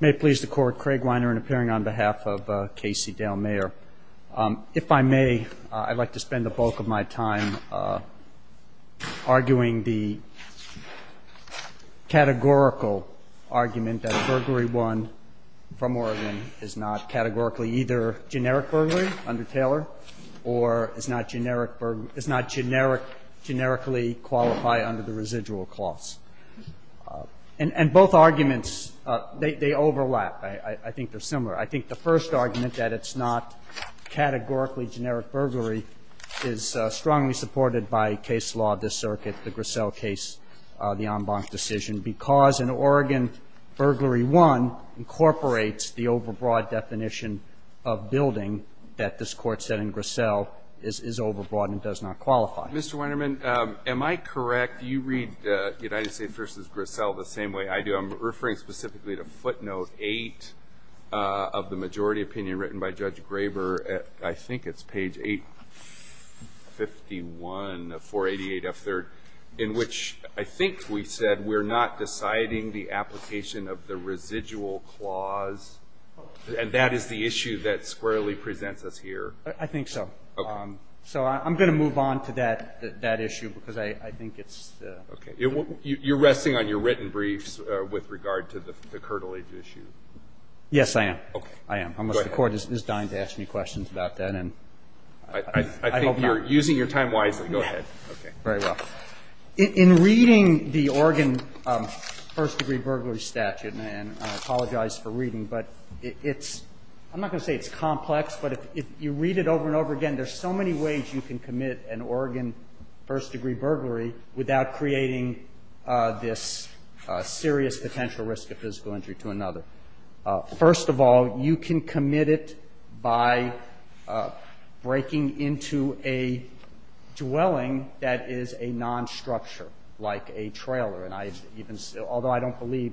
May it please the court, Craig Weiner in appearing on behalf of Casey Dale Mayer. If I may, I'd like to spend the bulk of my time arguing the categorical argument that a burglary one from Oregon is not categorically either generic burglary under Taylor or is not generic, is not generic, generically qualify under the They overlap. I think they're similar. I think the first argument that it's not categorically generic burglary is strongly supported by case law of this circuit, the Grissel case, the en banc decision, because in Oregon, burglary one incorporates the overbroad definition of building that this Court said in Grissel is overbroad and does not qualify. Mr. Weinerman, am I correct? Do you read United States v. Grissel the same way I do? I'm referring specifically to footnote 8 of the majority opinion written by Judge Graber at I think it's page 851 of 488F3rd, in which I think we said we're not deciding the application of the residual clause, and that is the issue that squarely presents us here. I think so. Okay. So I'm going to move on to that issue because I think it's Okay. You're resting on your written briefs with regard to the Kirtland issue. Yes, I am. Okay. I am. Unless the Court is dying to ask me questions about that. I think you're using your time wisely. Go ahead. Okay. Very well. In reading the Oregon first-degree burglary statute, and I apologize for reading, but it's – I'm not going to say it's complex, but if you read it over and over again, there's so many ways you can commit an Oregon first-degree burglary without creating this serious potential risk of physical injury to another. First of all, you can commit it by breaking into a dwelling that is a non-structure, like a trailer, and I even – although I don't believe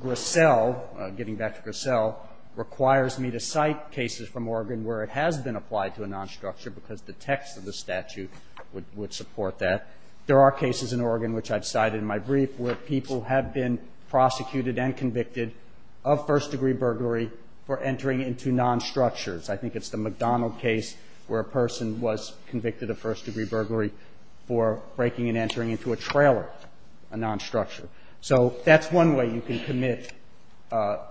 Grissel – getting back to Grissel – requires me to cite cases from Oregon where it has been applied to a non-structure because the text of the statute would support that. There are cases in Oregon, which I've cited in my brief, where people have been prosecuted and convicted of first-degree burglary for entering into non-structures. I think it's the McDonald case where a person was convicted of first-degree burglary for breaking and entering into a trailer, a non-structure. So that's one way you can commit,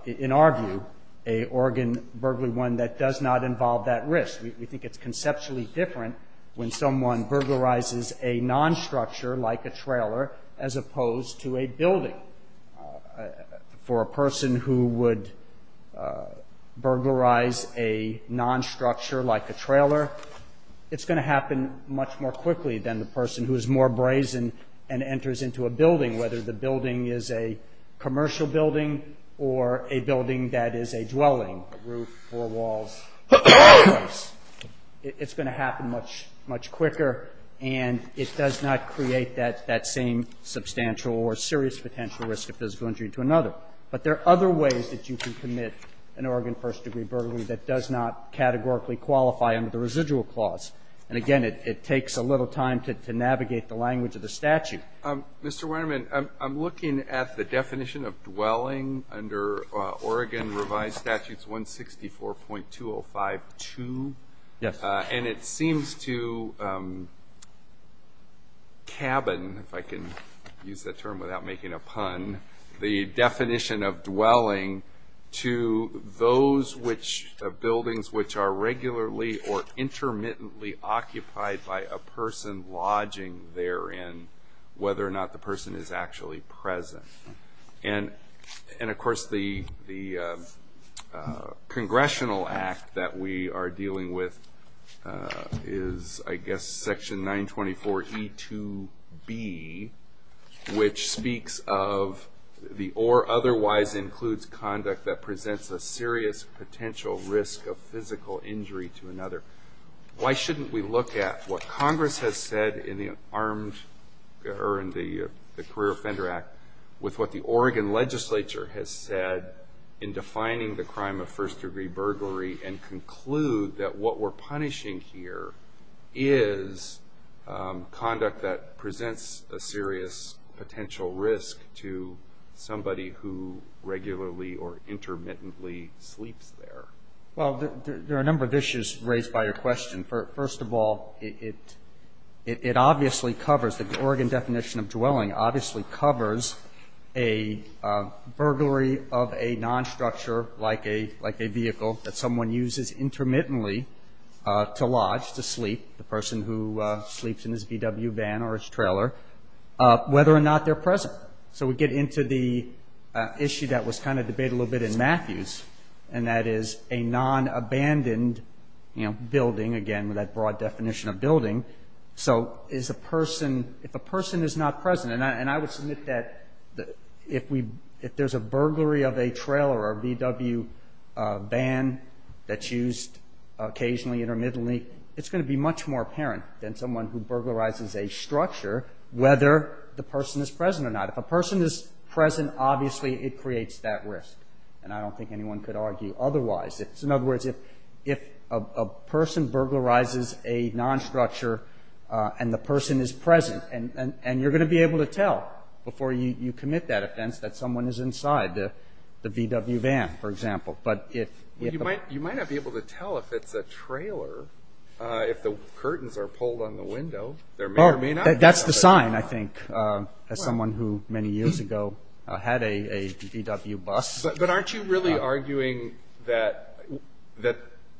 in our view, a Oregon burglary, one that does not involve that risk. We think it's conceptually different when someone burglarizes a non-structure, like a trailer, as opposed to a building. For a person who would burglarize a non-structure, like a trailer, it's going to happen much more quickly than the person who is more brazen and enters into a building, whether the building is a commercial building or a building that is a dwelling, a roof, four walls, a fireplace. It's going to happen much quicker, and it does not create that same substantial or serious potential risk of physical injury to another. But there are other ways that you can commit an Oregon first-degree burglary that does not categorically qualify under the residual clause. And again, it takes a little time to navigate the language of the statute. Mr. Weinerman, I'm looking at the definition of dwelling under Oregon Revised Statutes 164.205-2. And it seems to cabin, if I can use that term without making a pun, the definition of dwelling to those buildings which are regularly or intermittently occupied by a person lodging therein, whether or not the person is actually present. And, of course, the Congressional Act that we are dealing with is, I guess, Section 924E2B, which speaks of the or otherwise includes conduct that presents a serious potential risk of physical injury to another. Why shouldn't we look at what Congress has said in the Career Offender Act with what the Oregon legislature has said in defining the crime of first-degree burglary and conclude that what we're punishing here is conduct that presents a serious potential risk to somebody who regularly or intermittently sleeps there? Well, there are a number of issues raised by your question. First of all, it obviously covers, the Oregon definition of dwelling obviously covers a burglary of a non-structure like a vehicle that someone uses intermittently to lodge, to sleep, the person who sleeps in his VW van or his trailer, whether or not they're present. So we get into the issue that was kind of debated a little bit in Matthews, and that is a non-abandoned building, again, with that broad definition of building. So is a person, if a person is not present, and I would submit that if there's a burglary of a trailer or a VW van that's used occasionally, intermittently, it's going to be much more apparent than someone who burglarizes a structure whether the person is present or not. If a person is present, obviously it creates that risk. And I don't think anyone could argue otherwise. In other words, if a person burglarizes a non-structure and the person is present, and you're going to be able to tell before you commit that offense that someone is inside the VW van, for example. But if... Well, you might not be able to tell if it's a trailer if the curtains are pulled on the window. There may or may not be. That's the sign, I think, as someone who many years ago had a VW bus. But aren't you really arguing that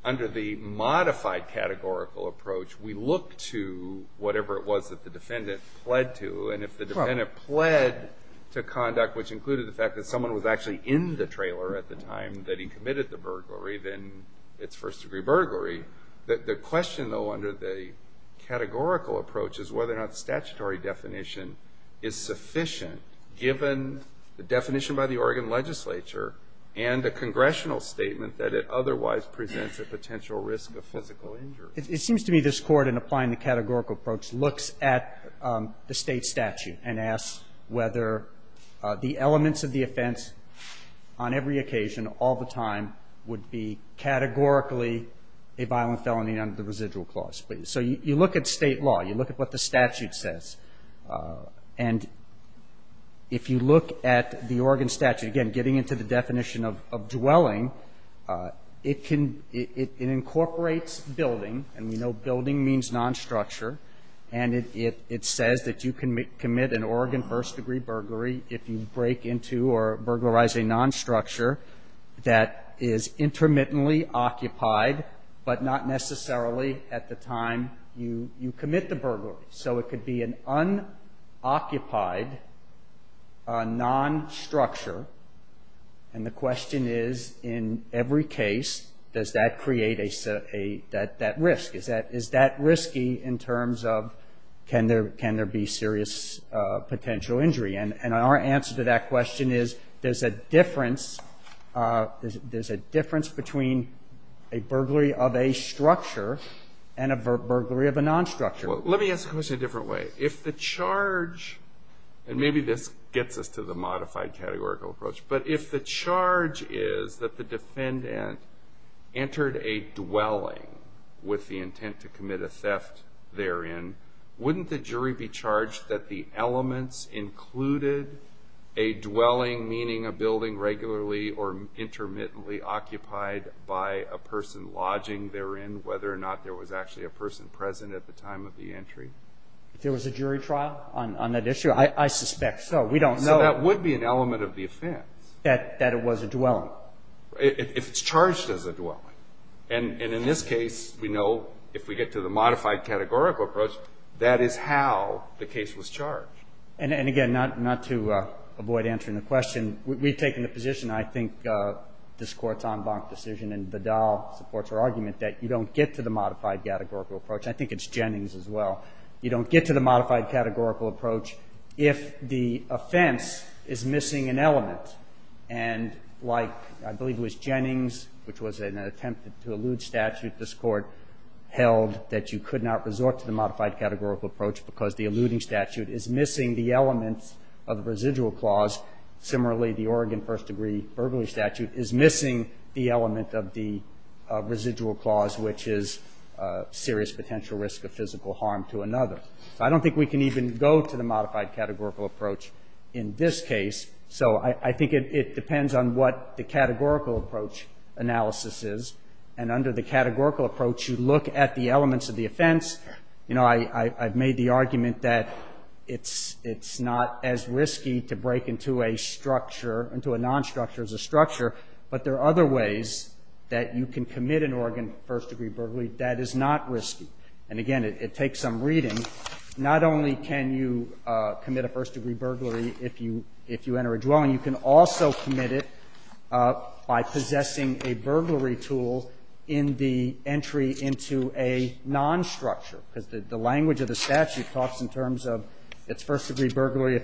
under the modified categorical approach, we look to whatever it was that the defendant pled to? And if the defendant pled to conduct, which included the fact that someone was actually in the trailer at the time that he committed the burglary, then it's first degree burglary. The question, though, under the categorical approach is whether or not statutory definition is sufficient given the definition by the Oregon legislature and the congressional statement that it otherwise presents a potential risk of physical injury. It seems to me this Court, in applying the categorical approach, looks at the state statute and asks whether the elements of the offense on every occasion, all the time, would be categorically a violent felony under the residual clause. So you look at state law. You look at what the statute says. And if you look at the Oregon statute, again, getting into the definition of dwelling, it incorporates building. And we know building means non-structure. And it says that you can commit an Oregon first degree burglary if you break into or burglarize a non-structure that is intermittently occupied, but not necessarily at the time you commit the burglary. So it could be an unoccupied non-structure. And the question is, in every case, does that create that risk? Is that risky in terms of can there be serious potential injury? And our answer to that question is there's a difference between a burglary of a structure and a burglary of a non-structure. Well, let me ask the question a different way. If the charge, and maybe this gets us to the modified categorical approach, but if the charge is that the defendant entered a dwelling with the intent to commit a theft therein, wouldn't the jury be charged that the elements included a dwelling, meaning a building regularly or intermittently occupied by a person lodging therein, whether or not there was actually a person present at the time of the entry? If there was a jury trial on that issue, I suspect so. We don't know. So that would be an element of the offense. That it was a dwelling. If it's charged as a dwelling. And in this case, we know if we get to the modified categorical approach, that is how the case was charged. And again, not to avoid answering the question, we've taken the position, I think this Court's en banc decision in Vidal supports our argument that you don't get to the modified categorical approach. I think it's Jennings as well. You don't get to the modified categorical approach if the offense is missing an element. And like, I believe it was Jennings, which was an attempt to elude statute, this Court held that you could not resort to the modified categorical approach because the eluding element of the residual clause, similarly the Oregon first degree burglary statute, is missing the element of the residual clause, which is serious potential risk of physical harm to another. So I don't think we can even go to the modified categorical approach in this case. So I think it depends on what the categorical approach analysis is. And under the categorical approach, you look at the elements of the offense. You know, I've made the argument that it's not as risky to break into a structure, into a non-structure as a structure. But there are other ways that you can commit an Oregon first degree burglary that is not risky. And again, it takes some reading. Not only can you commit a first degree burglary if you enter a dwelling, you can also commit it by possessing a burglary tool in the entry into a non-structure. Because the language of the statute talks in terms of it's first degree burglary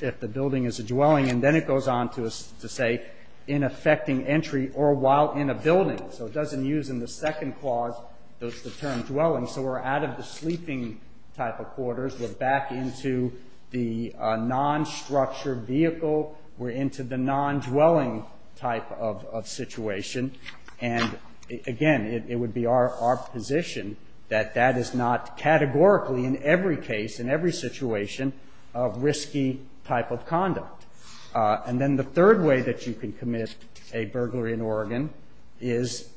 if the building is a dwelling. And then it goes on to say, in effecting entry or while in a building. So it doesn't use in the second clause the term dwelling. So we're out of the sleeping type of quarters. We're back into the non-structure vehicle. We're into the non-dwelling type of situation. And again, it would be our position that that is not categorically in every case, in every situation, a risky type of conduct. And then the third way that you can commit a burglary in Oregon is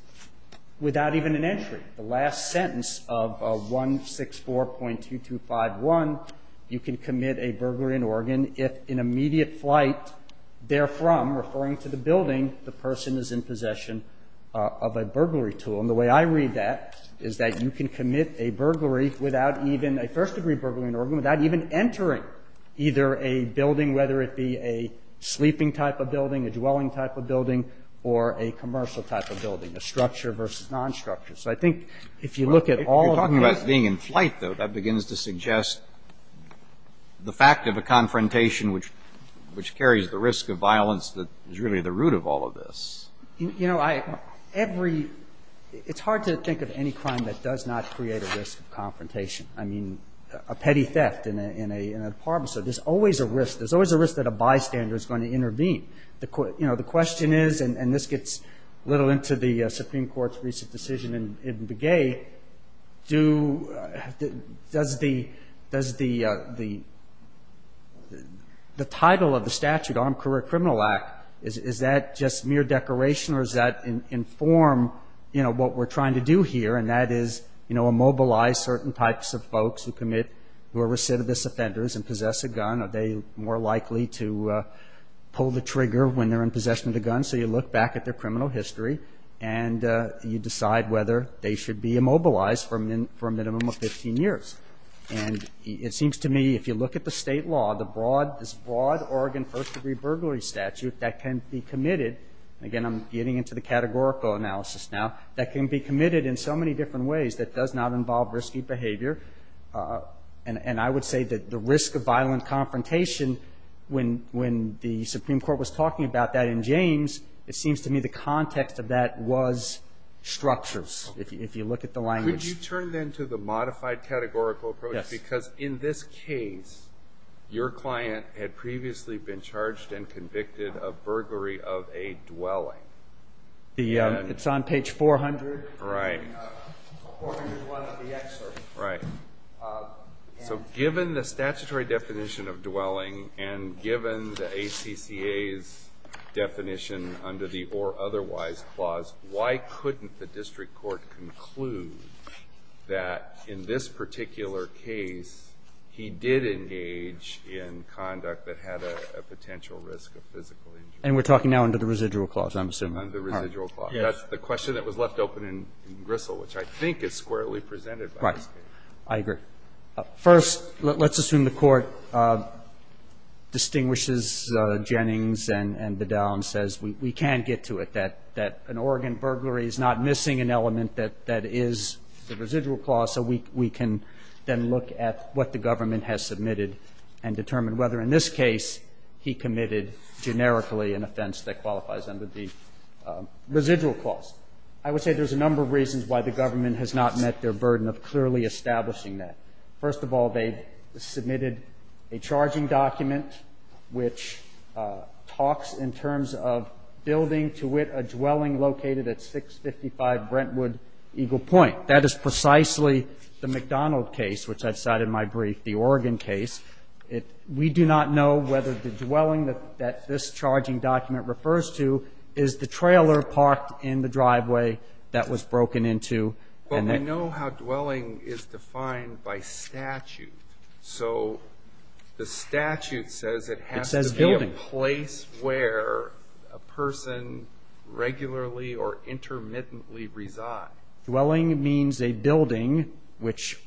without even an entry. The last sentence of 164.2251, you can commit a burglary in Oregon if in immediate flight, therefrom, referring to the building, the person is in possession of a burglary tool. And the way I read that is that you can commit a burglary without even a first degree burglary in Oregon, without even entering either a building, whether it be a sleeping type of building, a dwelling type of building, or a commercial type of building, a structure versus non-structure. So I think if you look at all of the cases you're talking about being in flight, though, that begins to suggest the fact of a confrontation which carries the risk of violence that is really the root of all of this. You know, every – it's hard to think of any crime that does not create a risk of confrontation. I mean, a petty theft in a department. So there's always a risk. There's always a risk that a bystander is going to intervene. You know, the question is, and this gets a little into the Supreme Court's recent decision in Begay, does the title of the statute, Armed Career Criminal Act, is that just mere decoration or is that in form, you know, what we're trying to do here? And that is, you know, immobilize certain types of folks who commit – who are recidivist offenders and possess a gun. Are they more likely to pull the trigger when they're in possession of the gun? So you look back at their criminal history and you decide whether they should be immobilized for a minimum of 15 years. And it seems to me, if you look at the state law, the broad – this broad Oregon first degree burglary statute that can be committed – again, I'm getting into the categorical analysis now – that can be committed in so many different ways that does not involve risky behavior. And I would say that the risk of violent confrontation, when the Supreme Court was – it seems to me the context of that was structures, if you look at the language. Could you turn then to the modified categorical approach? Yes. Because in this case, your client had previously been charged and convicted of burglary of a dwelling. It's on page 400. Right. So given the statutory definition of dwelling and given the ACCA's definition under the or otherwise clause, why couldn't the district court conclude that in this particular case, he did engage in conduct that had a potential risk of physical injury? And we're talking now under the residual clause, I'm assuming. Under the residual clause. Yes. That's the question that was left open in Grissel, which I think is squarely presented by this case. Right. I agree. First, let's assume the Court distinguishes Jennings and Bedell and says we can't get to it, that an Oregon burglary is not missing an element that is the residual clause, so we can then look at what the government has submitted and determine whether in this case he committed generically an offense that qualifies under the residual clause. I would say there's a number of reasons why the government has not met their burden of clearly establishing that. First of all, they've submitted a charging document which talks in terms of building to wit a dwelling located at 655 Brentwood Eagle Point. That is precisely the McDonald case, which I've cited in my brief, the Oregon case. We do not know whether the dwelling that this charging document refers to is the trailer parked in the driveway that was broken into. Well, we know how dwelling is defined by statute. So the statute says it has to be a place where a person regularly or intermittently resides. Dwelling means a building which,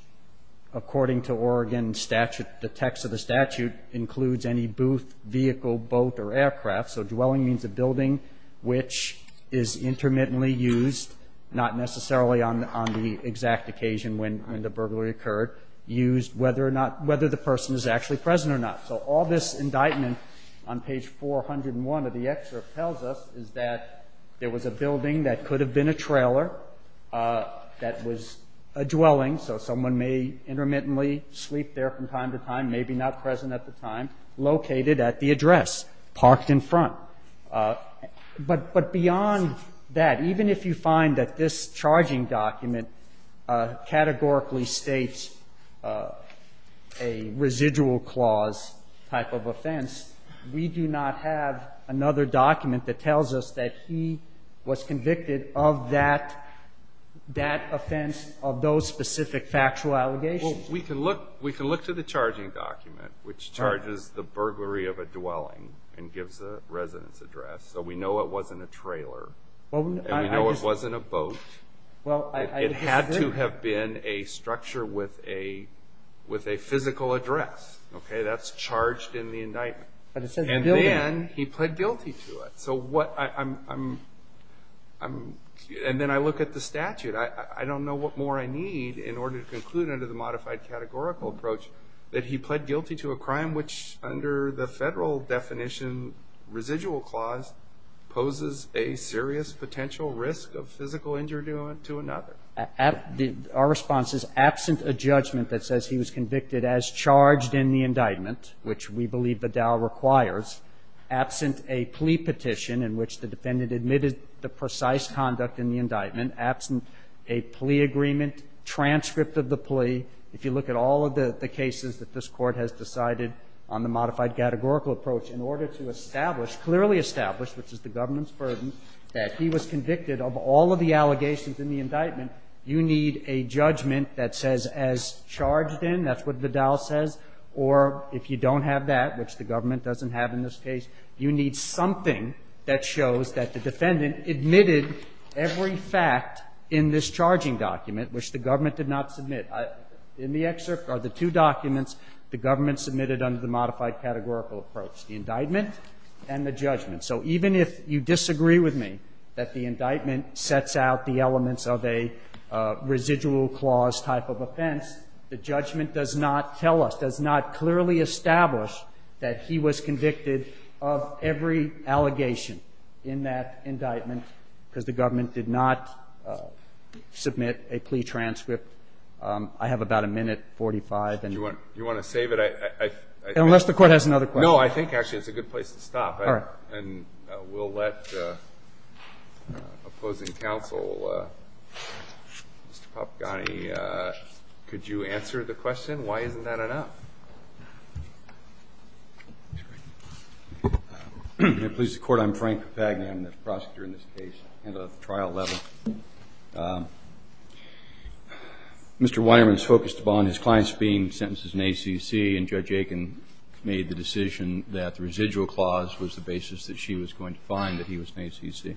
according to Oregon statute, the text of the statute includes any booth, vehicle, boat, or aircraft. So dwelling means a building which is intermittently used, not necessarily on the exact occasion when the burglary occurred, used whether the person is actually present or not. So all this indictment on page 401 of the excerpt tells us is that there was a building that could have been a trailer that was a dwelling, so someone may intermittently sleep there from time to time, maybe not present at the time, located at the address, parked in front. But beyond that, even if you find that this charging document categorically states a residual clause type of offense, we do not have another document that tells us that he was convicted of that offense of those specific factual allegations. Well, we can look to the charging document, which charges the burglary of a dwelling and gives a residence address. So we know it wasn't a trailer, and we know it wasn't a boat. It had to have been a structure with a physical address, okay? That's charged in the indictment. And then he pled guilty to it. And then I look at the statute. I don't know what more I need in order to conclude under the modified categorical approach that he pled guilty to a crime which, under the federal definition residual clause, poses a serious potential risk of physical injury to another. Our response is absent a judgment that says he was convicted as charged in the indictment, which we believe Vidal requires, absent a plea petition in which the defendant admitted the precise conduct in the indictment, absent a plea agreement, transcript of the plea, if you look at all of the cases that this Court has decided on the modified categorical approach, in order to establish, clearly establish, which is the government's burden, that he was convicted of all of the allegations in the indictment, you need a judgment that says as charged in, that's what Vidal says, or if you don't have that, which the government doesn't have in this case, you need something that shows that the defendant admitted every fact in this charging document, which the government did not submit. In the excerpt are the two documents the government submitted under the modified categorical approach, the indictment and the judgment. So even if you disagree with me that the indictment sets out the elements of a residual clause type of offense, the judgment does not tell us, does not clearly establish that he was convicted of every allegation in that indictment because the government did not submit a plea transcript. I have about a minute, 45, and you want to save it. I unless the court has another. No, I think actually it's a good place to stop. All right. And we'll let opposing counsel, Mr. Papagani, could you answer the question? Why isn't that enough? It pleases the Court. I'm Frank Papagni. I'm the prosecutor in this case at a trial level. Mr. Weinerman is focused upon his clients being sentenced in ACC, and Judge Aiken made the decision that the residual clause was the basis that she was going to find that he was in ACC.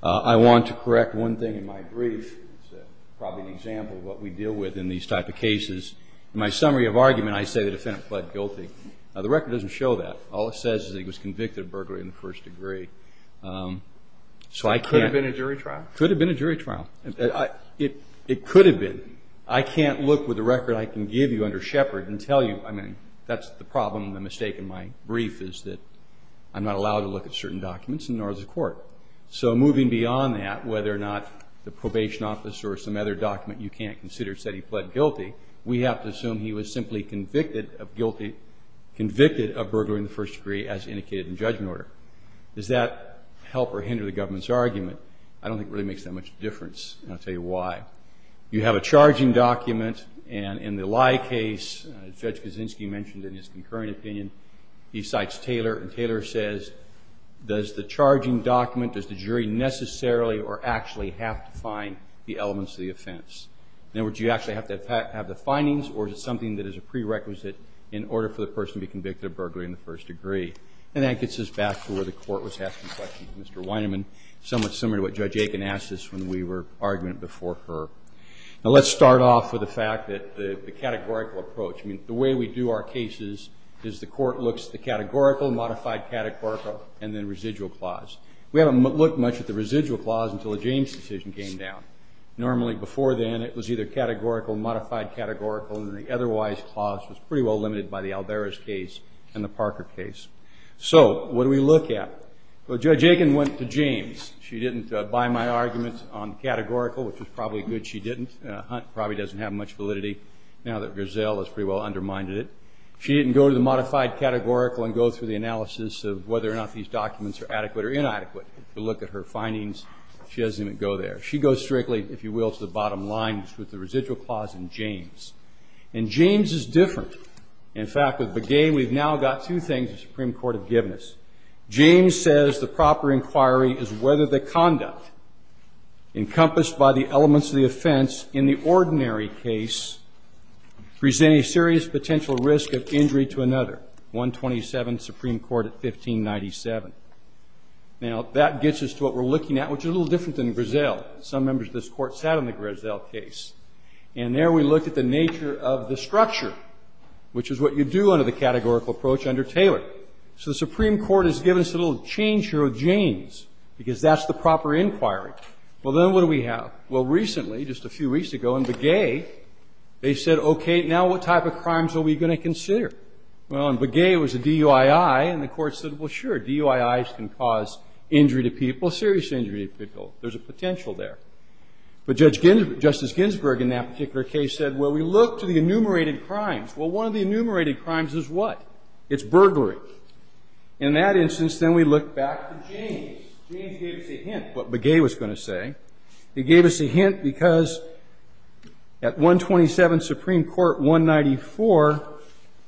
I want to correct one thing in my brief. It's probably an example of what we deal with in these type of cases. In my summary of argument, I say the defendant pled guilty. The record doesn't show that. All it says is he was convicted of burglary in the first degree. It could have been a jury trial. Could have been a jury trial. It could have been. I can't look with the record I can give you under Shepard and tell you, I mean, that's the problem and the mistake in my brief is that I'm not allowed to look at certain documents, nor is the court. So moving beyond that, whether or not the probation officer or some other document you can't consider said he pled guilty, we have to assume he was simply convicted of burglary in the first degree as indicated in judgment order. Does that help or hinder the government's argument? I don't think it really makes that much difference, and I'll tell you why. You have a charging document, and in the lie case, Judge Kaczynski mentioned in his concurrent opinion, he cites Taylor, and Taylor says, does the charging document, does the jury necessarily or actually have to find the elements of the offense? In other words, do you actually have to have the findings, or is it something that is a prerequisite in order for the person to be convicted of burglary in the first degree? And that gets us back to where the court was asking questions. Mr. Weinerman, somewhat similar to what Judge Aiken asked us when we were arguing before her. Now, let's start off with the fact that the categorical approach, the way we do our cases is the court looks at the categorical, modified categorical, and then residual clause. We haven't looked much at the residual clause until the James decision came down. Normally, before then, it was either categorical, modified categorical, and the otherwise clause was pretty well limited by the Alvarez case and the Parker case. So, what do we look at? Well, Judge Aiken went to James. She didn't buy my arguments on categorical, which is probably good she didn't. Hunt probably doesn't have much validity now that Griselle has pretty well undermined it. She didn't go to the modified categorical and go through the analysis of whether or not these documents are adequate or inadequate. If you look at her findings, she doesn't even go there. She goes strictly, if you will, to the bottom line with the residual clause in James. And James is different. In fact, with Begay, we've now got two things the Supreme Court have given us. James says the proper inquiry is whether the conduct encompassed by the elements of the offense in the ordinary case present a serious potential risk of injury to another. 127, Supreme Court at 1597. Now, that gets us to what we're looking at, which is a little different than Griselle. Some members of this Court sat on the Griselle case. And there we looked at the nature of the structure, which is what you do under the categorical approach under Taylor. So the Supreme Court has given us a little change here with James, because that's the proper inquiry. Well, then what do we have? Well, recently, just a few weeks ago, in Begay, they said, okay, now what type of crimes are we going to consider? Well, in Begay, it was a DUII, and the Court said, well, sure, DUIIs can cause injury to people, serious injury to people. There's a potential there. But Judge Ginsburg, Justice Ginsburg, in that particular case said, well, we look to the enumerated crimes. Well, one of the enumerated crimes is what? It's burglary. In that instance, then we look back to James. James gave us a hint what Begay was going to say. He gave us a hint because at 127, Supreme Court 194,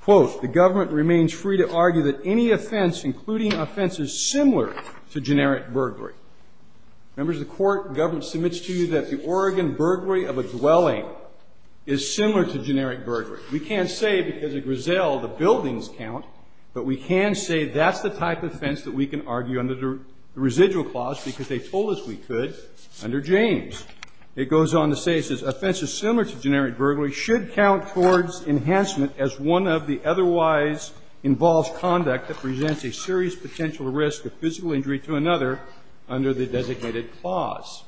quote, the government remains free to argue that any offense, including offenses similar to generic burglary. Members of the Court, the government submits to you that the Oregon burglary of a dwelling is similar to generic burglary. We can't say because of Griselle, the buildings count, but we can say that's the type of offense that we can argue under the residual clause because they told us we could under James. It goes on to say, it says, offenses similar to generic burglary should count towards enhancement as one of the otherwise involved conduct that presents a serious potential risk of physical injury to another under the designated clause.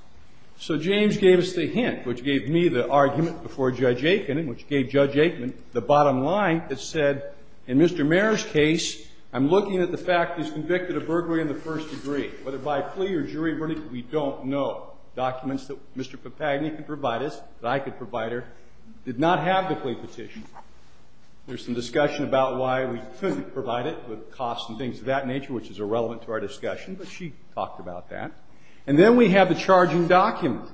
So James gave us the hint, which gave me the argument before Judge Aikman, which gave Judge Aikman the bottom line that said, in Mr. Mair's case, I'm looking at the fact he's convicted of burglary in the first degree. Whether by plea or jury verdict, we don't know. Documents that Mr. Papagni could provide us, that I could provide her, did not have the plea petition. There's some discussion about why we couldn't provide it with costs and things of that nature, which is irrelevant to our discussion, but she talked about that. And then we have the charging document.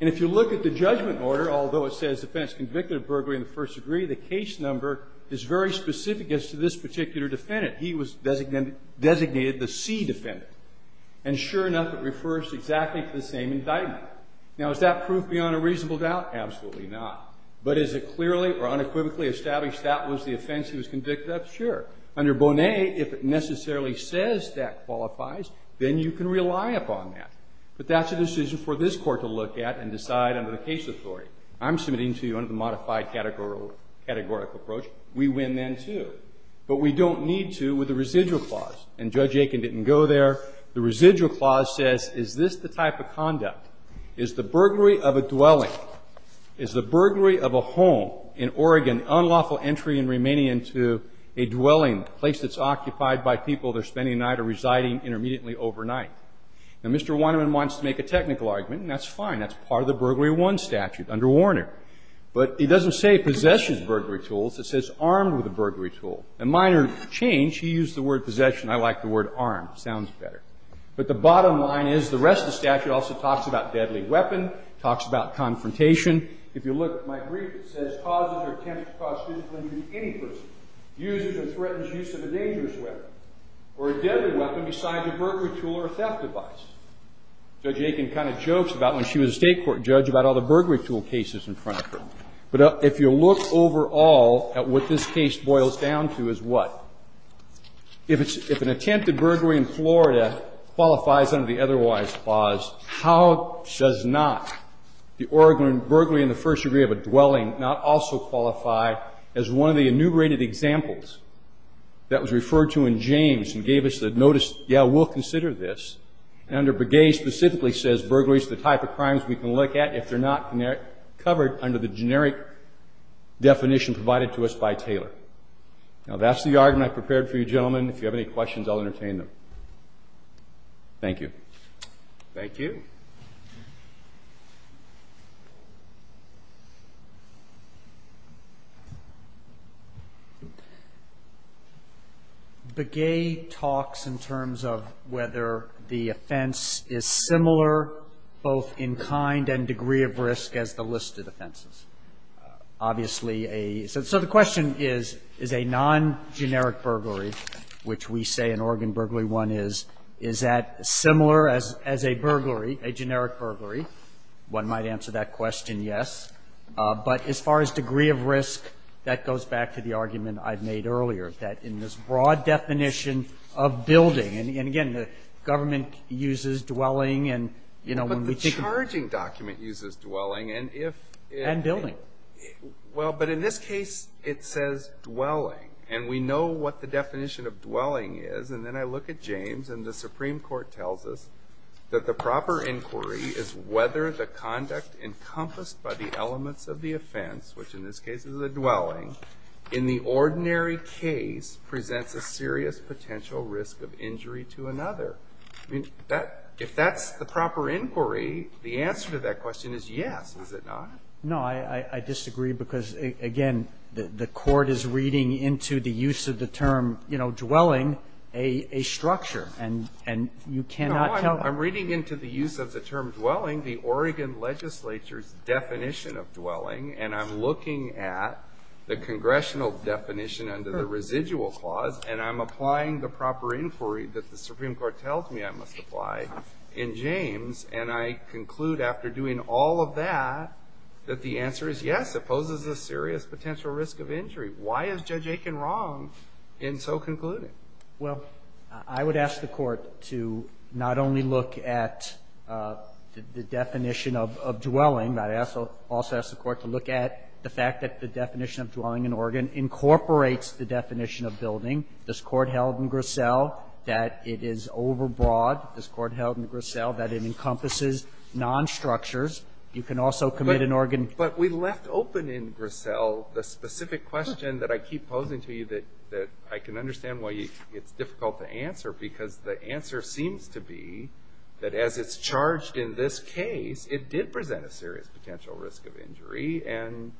And if you look at the judgment order, although it says defense convicted of burglary in the first degree, the case number is very specific as to this particular defendant. He was designated the C defendant. And sure enough, it refers exactly to the same indictment. Now, is that proof beyond a reasonable doubt? Absolutely not. But is it clearly or unequivocally established that was the offense he was convicted of? Sure. Under Bonet, if it necessarily says that qualifies, then you can rely upon that. But that's a decision for this Court to look at and decide under the case authority. I'm submitting to you under the modified categorical approach. We win then, too. But we don't need to with the residual clause. And Judge Aikman didn't go there. The residual clause says, is this the type of conduct? Is the burglary of a dwelling? Is the burglary of a home in Oregon unlawful entry and remaining into a dwelling, a place that's occupied by people that are spending a night or residing intermediately overnight? Now, Mr. Weinman wants to make a technical argument, and that's fine. That's part of the Burglary I statute under Warner. But it doesn't say possessions burglary tools. It says armed with a burglary tool. A minor change. He used the word possession. I like the word armed. Sounds better. But the bottom line is the rest of the statute also talks about deadly weapon, talks about confrontation. If you look at my brief, it says causes or attempts to cause physical injury to any person, uses or threatens use of a dangerous weapon, or a deadly weapon besides a burglary tool or a theft device. Judge Aikman kind of jokes about when she was a state court judge about all the burglary tool cases in front of her. But if you look overall at what this case boils down to is what? If an attempted burglary in Florida qualifies under the otherwise clause, how does not the Oregon burglary in the first degree of a dwelling not also qualify as one of the enumerated examples that was referred to in James and gave us the notice, yeah, we'll consider this. And under Begay specifically says burglary is the type of crimes we can look at if they're not covered under the generic definition provided to us by Taylor. Now, that's the argument I prepared for you, gentlemen. If you have any questions, I'll entertain them. Thank you. Thank you. Begay talks in terms of whether the offense is similar both in kind and degree of risk as the listed offenses. Obviously, so the question is, is a non-generic burglary, which we say an Oregon burglary is, is that similar as a burglary, a generic burglary? One might answer that question, yes. But as far as degree of risk, that goes back to the argument I've made earlier, that in this broad definition of building, and again, the government uses dwelling and, you know, when we think of But the charging document uses dwelling. And if And building. Well, but in this case, it says dwelling. And we know what the definition of dwelling is. And then I look at James, and the Supreme Court tells us that the proper inquiry is whether the conduct encompassed by the elements of the offense, which in this case is a dwelling, in the ordinary case presents a serious potential risk of injury to another. If that's the proper inquiry, the answer to that question is yes, is it not? No, I disagree. Because again, the court is reading into the use of the term, you know, dwelling, a structure and, and you cannot tell. I'm reading into the use of the term dwelling, the Oregon legislature's definition of dwelling. And I'm looking at the congressional definition under the residual clause, and I'm applying the proper inquiry that the Supreme Court tells me I must apply in James. And I conclude after doing all of that, that the answer is yes, it poses a serious potential risk of injury. Why is Judge Aiken wrong in so concluding? Well, I would ask the court to not only look at the definition of, of dwelling, but I also, also ask the court to look at the fact that the definition of dwelling in Oregon incorporates the definition of building. This court held in Grassell that it is overbroad. This court held in Grassell that it encompasses non-structures. You can also commit an Oregon. But we left open in Grassell the specific question that I keep posing to you that, that I can understand why it's difficult to answer. Because the answer seems to be that as it's charged in this case, it did present a serious potential risk of injury. And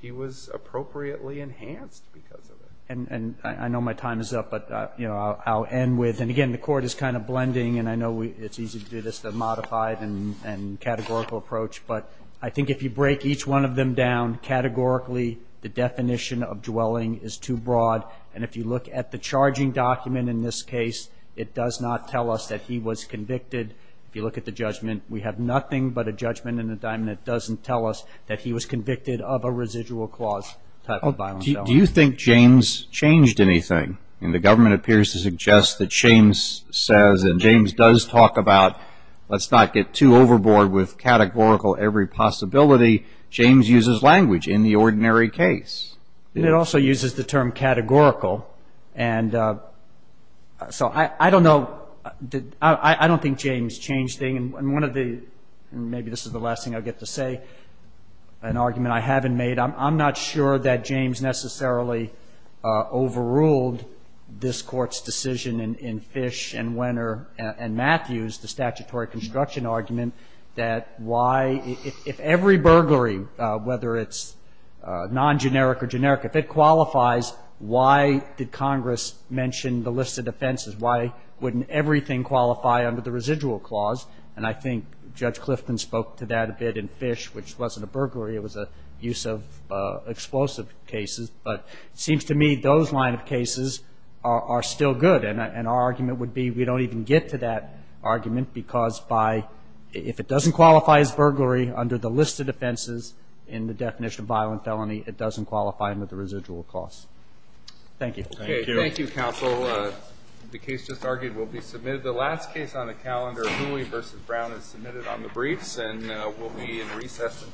he was appropriately enhanced because of it. And, and I know my time is up, but you know, I'll end with, and again, the court is kind of blending and I know we, it's easy to do this, the modified and, and categorical approach. But I think if you break each one of them down categorically, the definition of dwelling is too broad. And if you look at the charging document in this case, it does not tell us that he was convicted. If you look at the judgment, we have nothing but a judgment in the diamond that doesn't tell us that he was convicted of a residual clause type of violence. Do you think James changed anything? And the government appears to suggest that James says, and James does talk about, let's not get too overboard with categorical every possibility. James uses language in the ordinary case. And it also uses the term categorical. And so I, I don't know, I, I don't think James changed anything. And one of the, and maybe this is the last thing I'll get to say, an argument I haven't made. I'm, I'm not sure that James necessarily overruled this Court's decision in, in Fish and Wenner and Matthews, the statutory construction argument, that why, if, if every burglary, whether it's non-generic or generic, if it qualifies, why did Congress mention the list of defenses? Why wouldn't everything qualify under the residual clause? And I think Judge Clifton spoke to that a bit in Fish, which wasn't a burglary, it was a use of explosive cases. But it seems to me those line of cases are, are still good. And our argument would be we don't even get to that argument because by, if it doesn't qualify as burglary under the list of defenses in the definition of violent felony, it doesn't qualify under the residual clause. Thank you. Thank you. Thank you, counsel. The case just argued will be submitted. The last case on the calendar, Hooley v. Brown, is submitted on the briefs, and we'll be in recess.